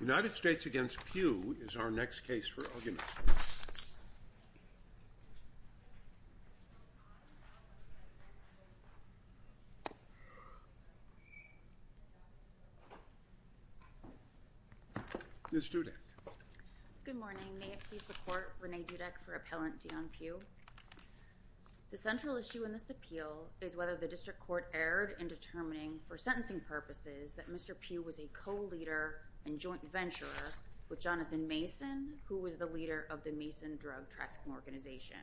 United States v. Pugh is our next case for argument. Ms. Dudek. Good morning. May it please the Court, Renee Dudek for Appellant Deon Pugh. The central issue in this appeal is whether the District Court erred in determining for sentencing purposes that Mr. Pugh was a co-leader and joint venturer with Jonathan Mason, who was the leader of the Mason Drug Trafficking Organization.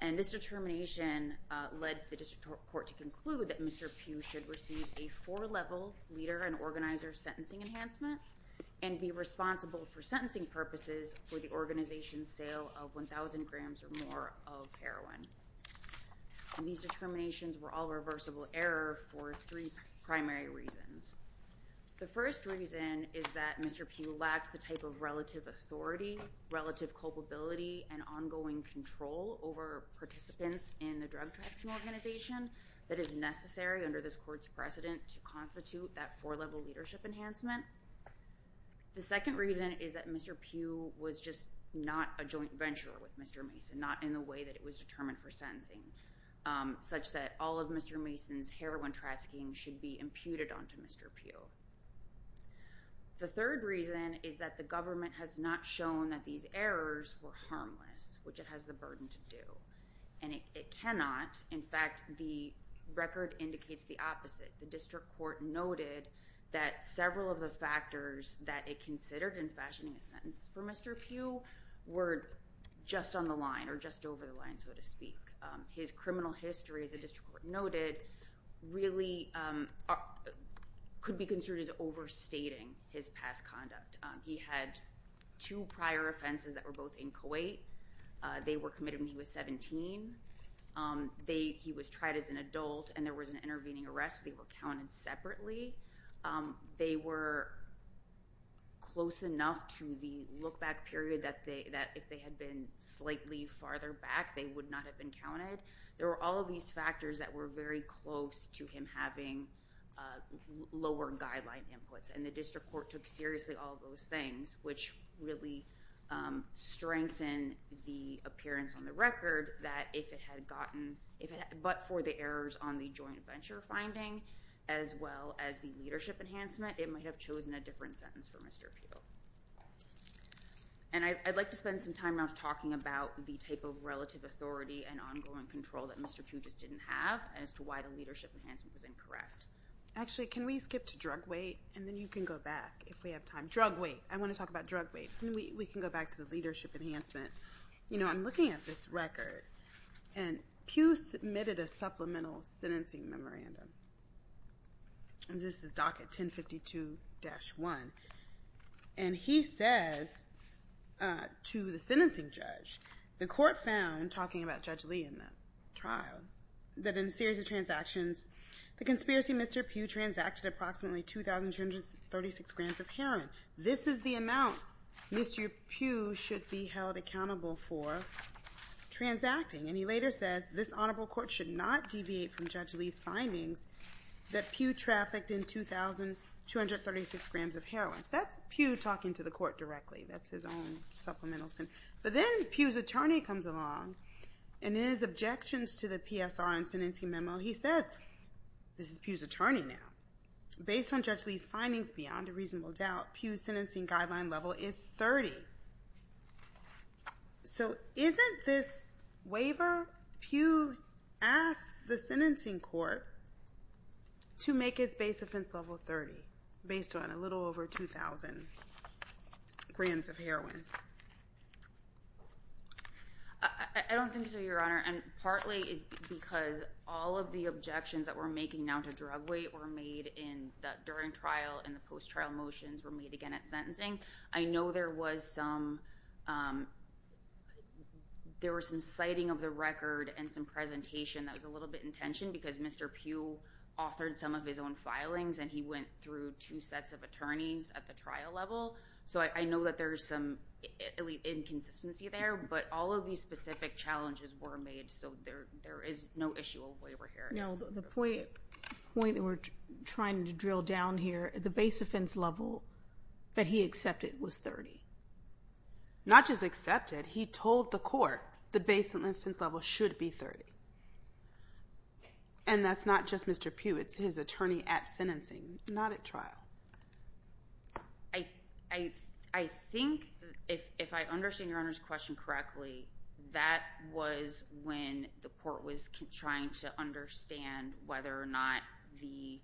And this determination led the District Court to conclude that Mr. Pugh should receive a four-level leader and organizer sentencing enhancement and be responsible for sentencing purposes for the organization's sale of 1,000 grams or more of heroin. And these determinations were all reversible error for three primary reasons. The first reason is that Mr. Pugh lacked the type of relative authority, relative culpability, and ongoing control over participants in the drug trafficking organization that is necessary under this Court's precedent to constitute that four-level leadership enhancement. The second reason is that Mr. Pugh was just not a joint venturer with Mr. Mason, not in the way that it was determined for sentencing, such that all of Mr. Mason's heroin trafficking should be imputed onto Mr. Pugh. The third reason is that the government has not shown that these errors were harmless, which it has the burden to do. And it cannot. In fact, the record indicates the opposite. The District Court noted that several of the factors that it considered in fashioning a sentence for Mr. Pugh were just on the line or just over the line, so to speak. His criminal history, as the District Court noted, really could be considered as overstating his past conduct. He had two prior offenses that were both in Kuwait. They were committed when he was 17. He was tried as an adult, and there was an intervening arrest. They were counted separately. They were close enough to the look-back period that if they had been slightly farther back, they would not have been counted. There were all of these factors that were very close to him having lower guideline inputs, and the District Court took seriously all of those things, which really strengthened the appearance on the record that if it had gotten—but for the errors on the joint venture finding as well as the leadership enhancement, it might have chosen a different sentence for Mr. Pugh. And I'd like to spend some time now talking about the type of relative authority and ongoing control that Mr. Pugh just didn't have as to why the leadership enhancement was incorrect. Actually, can we skip to drug weight, and then you can go back if we have time. Drug weight. I want to talk about drug weight. We can go back to the leadership enhancement. You know, I'm looking at this record, and Pugh submitted a supplemental sentencing memorandum. This is docket 1052-1, and he says to the sentencing judge, the court found, talking about Judge Lee in the trial, that in a series of transactions, the conspiracy Mr. Pugh transacted approximately 2,236 grands of heroin. This is the amount Mr. Pugh should be held accountable for transacting, and he later says this honorable court should not deviate from Judge Lee's findings that Pugh trafficked in 2,236 grams of heroin. That's Pugh talking to the court directly. That's his own supplemental sentence. But then Pugh's attorney comes along, and in his objections to the PSR and sentencing memo, he says—this is Pugh's attorney now—based on Judge Lee's findings, beyond a reasonable doubt, Pugh's sentencing guideline level is 30. So isn't this waiver Pugh asked the sentencing court to make his base offense level 30, based on a little over 2,000 grams of heroin? I don't think so, Your Honor, and partly it's because all of the objections that we're making now to drug weight were made during trial, and the post-trial motions were made again at sentencing. I know there was some—there was some citing of the record and some presentation that was a little bit in tension because Mr. Pugh authored some of his own filings, and he went through two sets of attorneys at the trial level. So I know that there's some inconsistency there, but all of these specific challenges were made, so there is no issue of waiver here. No, the point that we're trying to drill down here, the base offense level that he accepted was 30. Not just accepted, he told the court the base offense level should be 30. And that's not just Mr. Pugh, it's his attorney at sentencing, not at trial. I think, if I understand Your Honor's question correctly, that was when the court was trying to understand whether or not the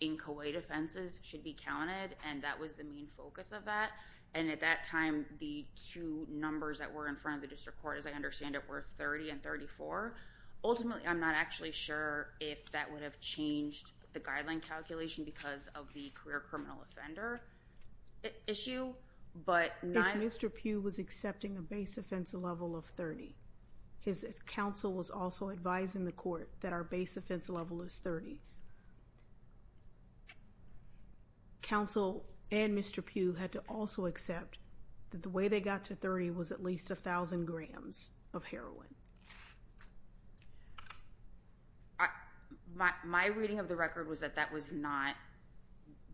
inchoate offenses should be counted, and that was the main focus of that. And at that time, the two numbers that were in front of the district court, as I understand it, were 30 and 34. Ultimately, I'm not actually sure if that would have changed the guideline calculation because of the career criminal offender issue, but... If Mr. Pugh was accepting a base offense level of 30, his counsel was also advising the court that our base offense level is 30. Counsel and Mr. Pugh had to also accept that the way they got to 30 was at least 1,000 grams of heroin. My reading of the record was that that was not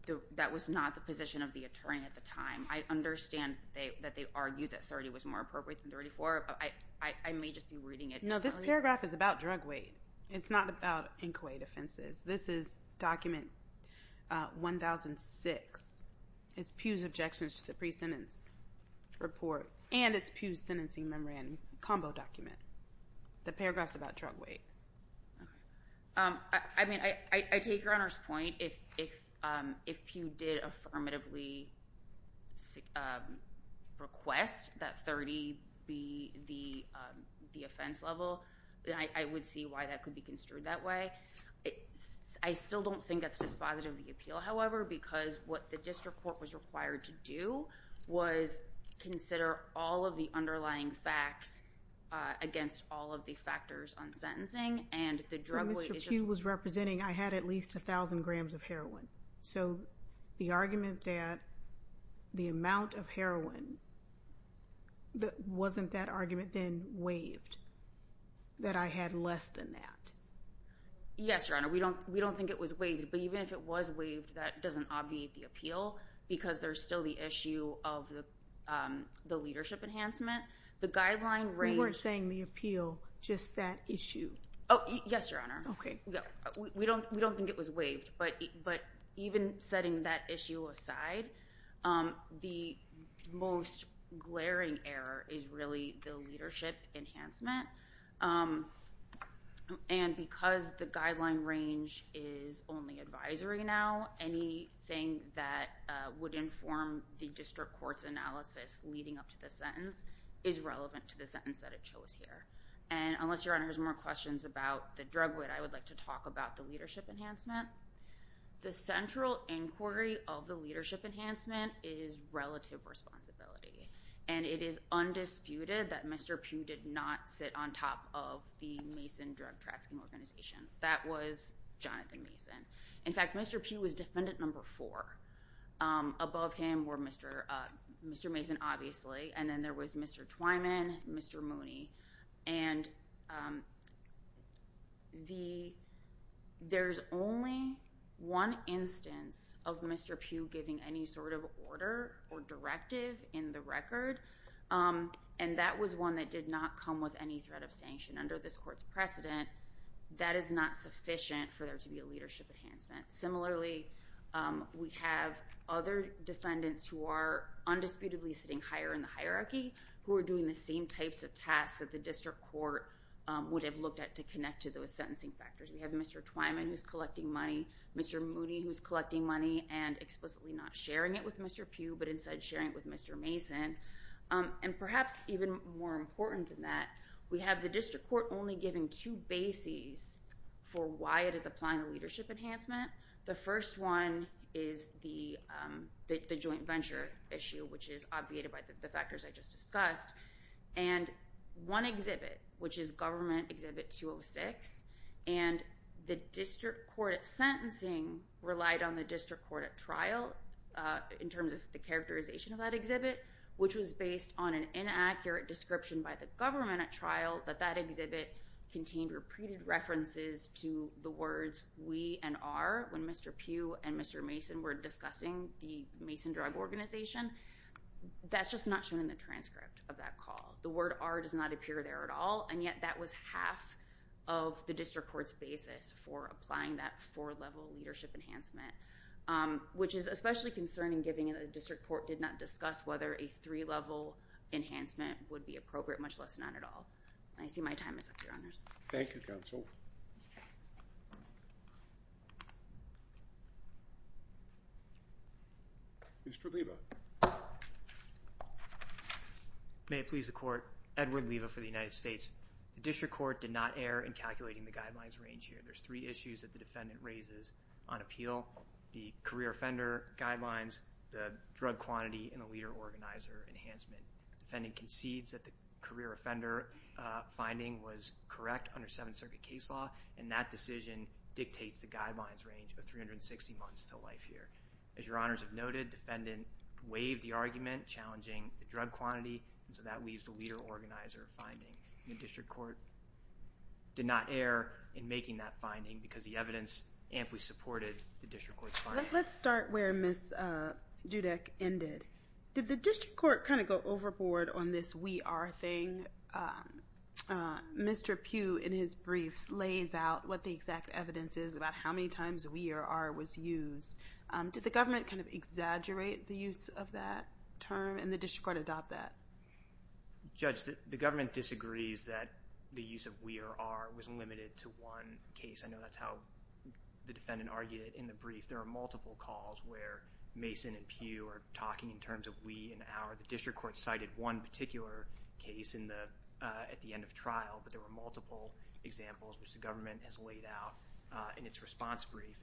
the position of the attorney at the time. I understand that they argued that 30 was more appropriate than 34, but I may just be reading it... No, this paragraph is about drug weight. It's not about inchoate offenses. This is document 1006. It's Pugh's objections to the pre-sentence report and it's Pugh's sentencing memorandum combo document. The paragraph's about drug weight. I mean, I take Your Honor's point. If Pugh did affirmatively request that 30 be the offense level, then I would see why that could be construed that way. I still don't think that's dispositive of the appeal, however, because what the district court was required to do was consider all of the underlying facts against all of the factors on sentencing and the drug weight... So, the argument that the amount of heroin... wasn't that argument then waived? That I had less than that? Yes, Your Honor. We don't think it was waived, but even if it was waived, that doesn't obviate the appeal because there's still the issue of the leadership enhancement. The guideline... We weren't saying the appeal, just that issue. Oh, yes, Your Honor. Okay. We don't think it was waived, but even setting that issue aside, the most glaring error is really the leadership enhancement. And because the guideline range is only advisory now, anything that would inform the district court's analysis leading up to the sentence is relevant to the sentence that it shows here. And unless, Your Honor, there's more questions about the drug weight, I would like to talk about the leadership enhancement. The central inquiry of the leadership enhancement is relative responsibility. And it is undisputed that Mr. Pugh did not sit on top of the Mason Drug Trafficking Organization. That was Jonathan Mason. In fact, Mr. Pugh was defendant number four. Above him were Mr. Mason, obviously, and then there was Mr. Twyman, Mr. Mooney, and Mr. Johnson. And the... there's only one instance of Mr. Pugh giving any sort of order or directive in the record, and that was one that did not come with any threat of sanction under this court's precedent. That is not sufficient for there to be a leadership enhancement. Similarly, we have other defendants who are undisputedly sitting higher in the hierarchy who are doing the same types of tasks that the district court would have looked at to connect to those sentencing factors. We have Mr. Twyman who's collecting money, Mr. Mooney who's collecting money and explicitly not sharing it with Mr. Pugh, but instead sharing it with Mr. Mason. And perhaps even more important than that, we have the district court only giving two bases for why it is applying the leadership enhancement. The first one is the joint venture issue, which is obviated by the factors I just discussed. And one exhibit, which is Government Exhibit 206, and the district court at sentencing relied on the district court at trial in terms of the characterization of that exhibit, which was based on an inaccurate description by the government at trial that that exhibit contained repeated references to the words we and our, when Mr. Pugh and Mr. Mason were discussing the Mason Drug Organization, that's just not shown in the transcript of that call. The word our does not appear there at all, and yet that was half of the district court's basis for applying that four-level leadership enhancement, which is especially concerning given that the district court did not discuss whether a three-level enhancement would be appropriate, much less not at all. I see my time is up, Your Honors. Thank you, Counsel. Mr. Leva. May it please the Court, Edward Leva for the United States. The district court did not err in calculating the guidelines range here. There's three issues that the defendant raises on appeal, the career offender guidelines, the drug quantity, and a leader organizer enhancement. The defendant concedes that the career offender finding was correct under Seventh Circuit case law, and that decision dictates the guidelines range of 360 months to life here. As Your Honors have noted, the defendant waived the argument challenging the drug quantity, and so that leaves the leader organizer finding. The district court did not err in making that finding because the evidence amply supported the district court's finding. Let's start where Ms. Judek ended. Did the district court kind of go overboard on this we are thing? Mr. Pugh, in his briefs, lays out what the exact evidence is about how many times we or are was used. Did the government kind of exaggerate the use of that term, and the district court adopt that? Judge, the government disagrees that the use of we or are was limited to one case. I know that's how the defendant argued it in the brief. There are multiple calls where Mason and Pugh are talking in terms of we and are. The district court cited one particular case at the end of trial, but there were multiple examples which the government has laid out in its response brief.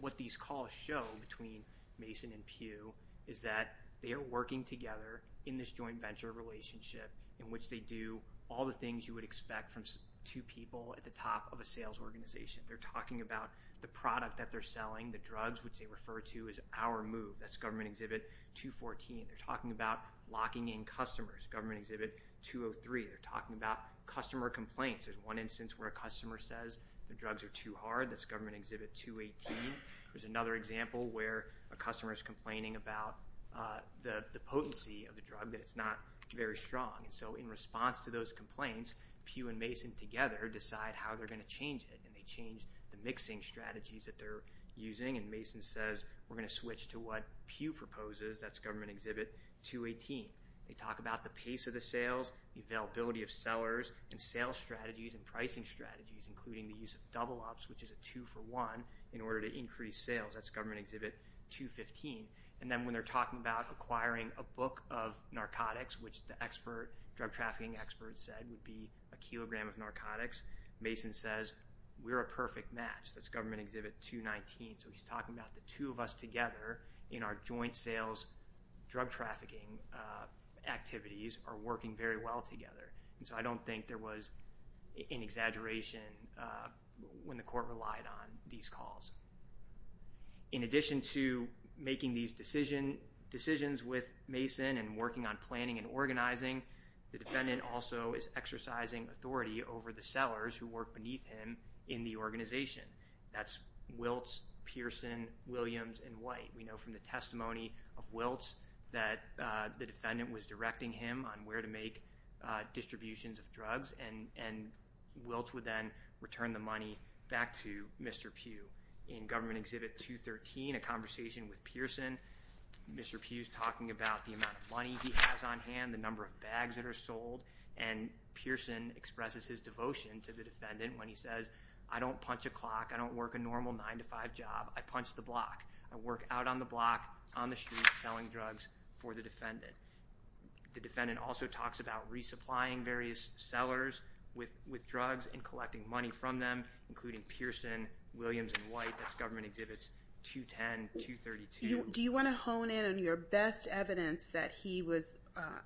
What these calls show between Mason and Pugh is that they are working together in this joint venture relationship in which they do all the things you would expect from two people at the top of a sales organization. They are talking about the product that they are selling, the drugs, which they refer to as our move. That's Government Exhibit 214. They are talking about locking in customers, Government Exhibit 203. They are talking about customer complaints. There's one instance where a customer says the drugs are too hard. That's Government Exhibit 218. There's another example where a customer is complaining about the potency of the drug that it's not very strong. In response to those complaints, Pugh and Mason together decide how they are going to change it. They change the mixing strategies that they are using, and Mason says we're going to switch to what Pugh proposes. That's Government Exhibit 218. They talk about the pace of the sales, the availability of sellers, and sales strategies and pricing strategies, including the use of double ups, which is a two-for-one in order to increase sales. That's Government Exhibit 215. And then when they are talking about acquiring a book of narcotics, which the drug trafficking experts said would be a kilogram of narcotics, Mason says we're a perfect match. That's Government Exhibit 219. So he's talking about the two of us together in our joint sales drug trafficking activities are working very well together. And so I don't think there was an exaggeration when the court relied on these calls. In addition to making these decisions with Mason and working on planning and organizing, the defendant also is exercising authority over the sellers who work beneath him in the organization. That's Wiltz, Pearson, Williams, and White. We know from the testimony of Wiltz that the defendant was directing him on where to make distributions of drugs, and Wiltz would then return the money back to Mr. Pugh. In Government Exhibit 213, a conversation with Pearson, Mr. Pugh is talking about the amount of bags that are sold, and Pearson expresses his devotion to the defendant when he says, I don't punch a clock, I don't work a normal 9-to-5 job, I punch the block. I work out on the block, on the street, selling drugs for the defendant. The defendant also talks about resupplying various sellers with drugs and collecting money from them, including Pearson, Williams, and White. That's Government Exhibits 210, 232. Do you want to hone in on your best evidence that he was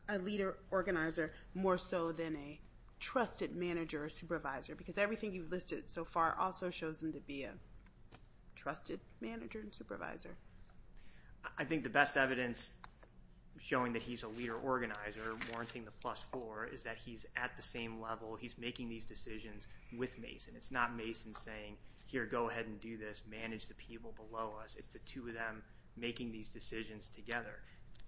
a leader organizer more so than a trusted manager or supervisor? Because everything you've listed so far also shows him to be a trusted manager and supervisor. I think the best evidence showing that he's a leader organizer, warranting the plus four, is that he's at the same level. He's making these decisions with Mason. It's not Mason saying, here, go ahead and do this, manage the people below us. It's the two of them making these decisions together.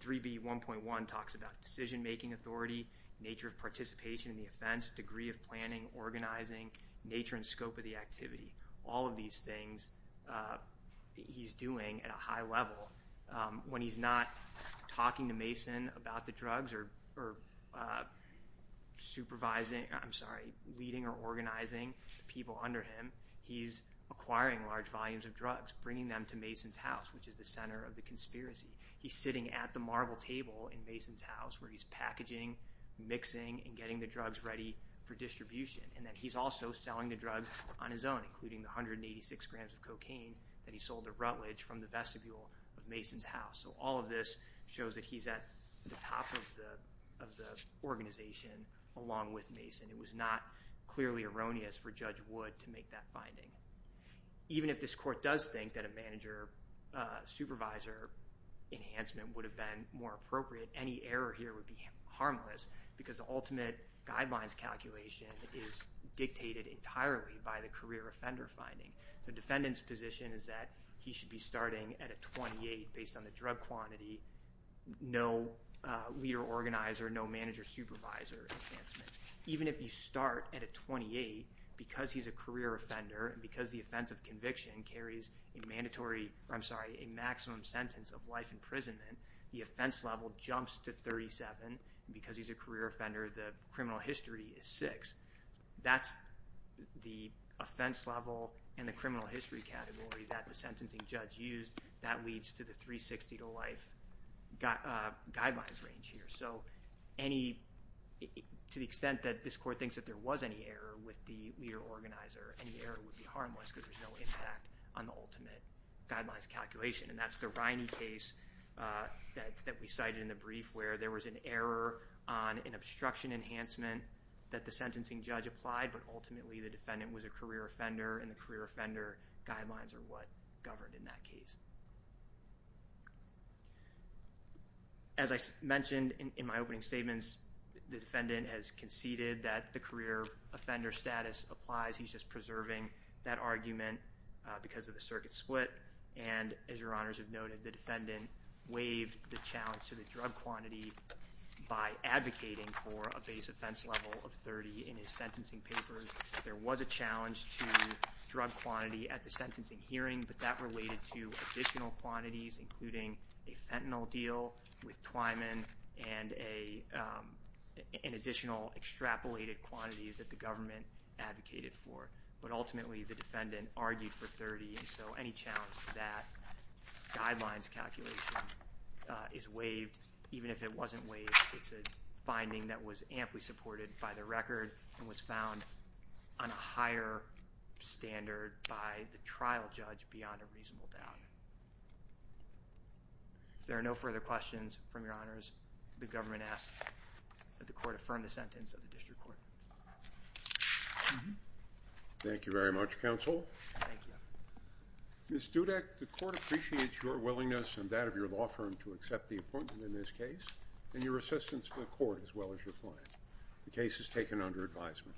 3B1.1 talks about decision-making authority, nature of participation in the offense, degree of planning, organizing, nature and scope of the activity. All of these things he's doing at a high level. When he's not talking to Mason about the drugs or supervising, I'm sorry, leading or organizing the people under him, he's acquiring large volumes of drugs, bringing them to Mason's house, which is the center of the conspiracy. He's sitting at the marble table in Mason's house where he's packaging, mixing, and getting the drugs ready for distribution. And then he's also selling the drugs on his own, including the 186 grams of cocaine that he sold to Rutledge from the vestibule of Mason's house. So all of this shows that he's at the top of the organization along with Mason. It was not clearly erroneous for Judge Wood to make that finding. Even if this court does think that a manager-supervisor enhancement would have been more appropriate, any error here would be harmless because the ultimate guidelines calculation is dictated entirely by the career offender finding. The defendant's position is that he should be starting at a 28 based on the drug quantity, no leader organizer, no manager-supervisor enhancement. Even if you start at a 28, because he's a career offender and because the offense of conviction carries a maximum sentence of life imprisonment, the offense level jumps to 37. And because he's a career offender, the criminal history is 6. That's the offense level and the criminal history category that the sentencing judge used that leads to the 360 to life guidelines range here. So to the extent that this court thinks that there was any error with the leader organizer, any error would be harmless because there's no impact on the ultimate guidelines calculation. And that's the Riney case that we cited in the brief where there was an error on an obstruction enhancement that the sentencing judge applied, but ultimately the defendant was a career offender and the career offender guidelines are what governed in that case. As I mentioned in my opening statements, the defendant has conceded that the career offender status applies. He's just preserving that argument because of the circuit split. And as your honors have noted, the defendant waived the challenge to the drug quantity by advocating for a base offense level of 30 in his sentencing papers. There was a challenge to drug quantity at the sentencing hearing, but that related to additional quantities, including a fentanyl deal with Twyman and an additional extrapolated quantities that the government advocated for. But ultimately the defendant argued for 30, and so any challenge to that guidelines calculation is waived, even if it wasn't waived, it's a finding that was amply supported by the on a higher standard by the trial judge beyond a reasonable doubt. If there are no further questions from your honors, the government asks that the court affirm the sentence of the district court. Thank you very much, counsel. Thank you. Ms. Dudek, the court appreciates your willingness and that of your law firm to accept the appointment in this case and your assistance to the court as well as your client. The case is taken under advisement.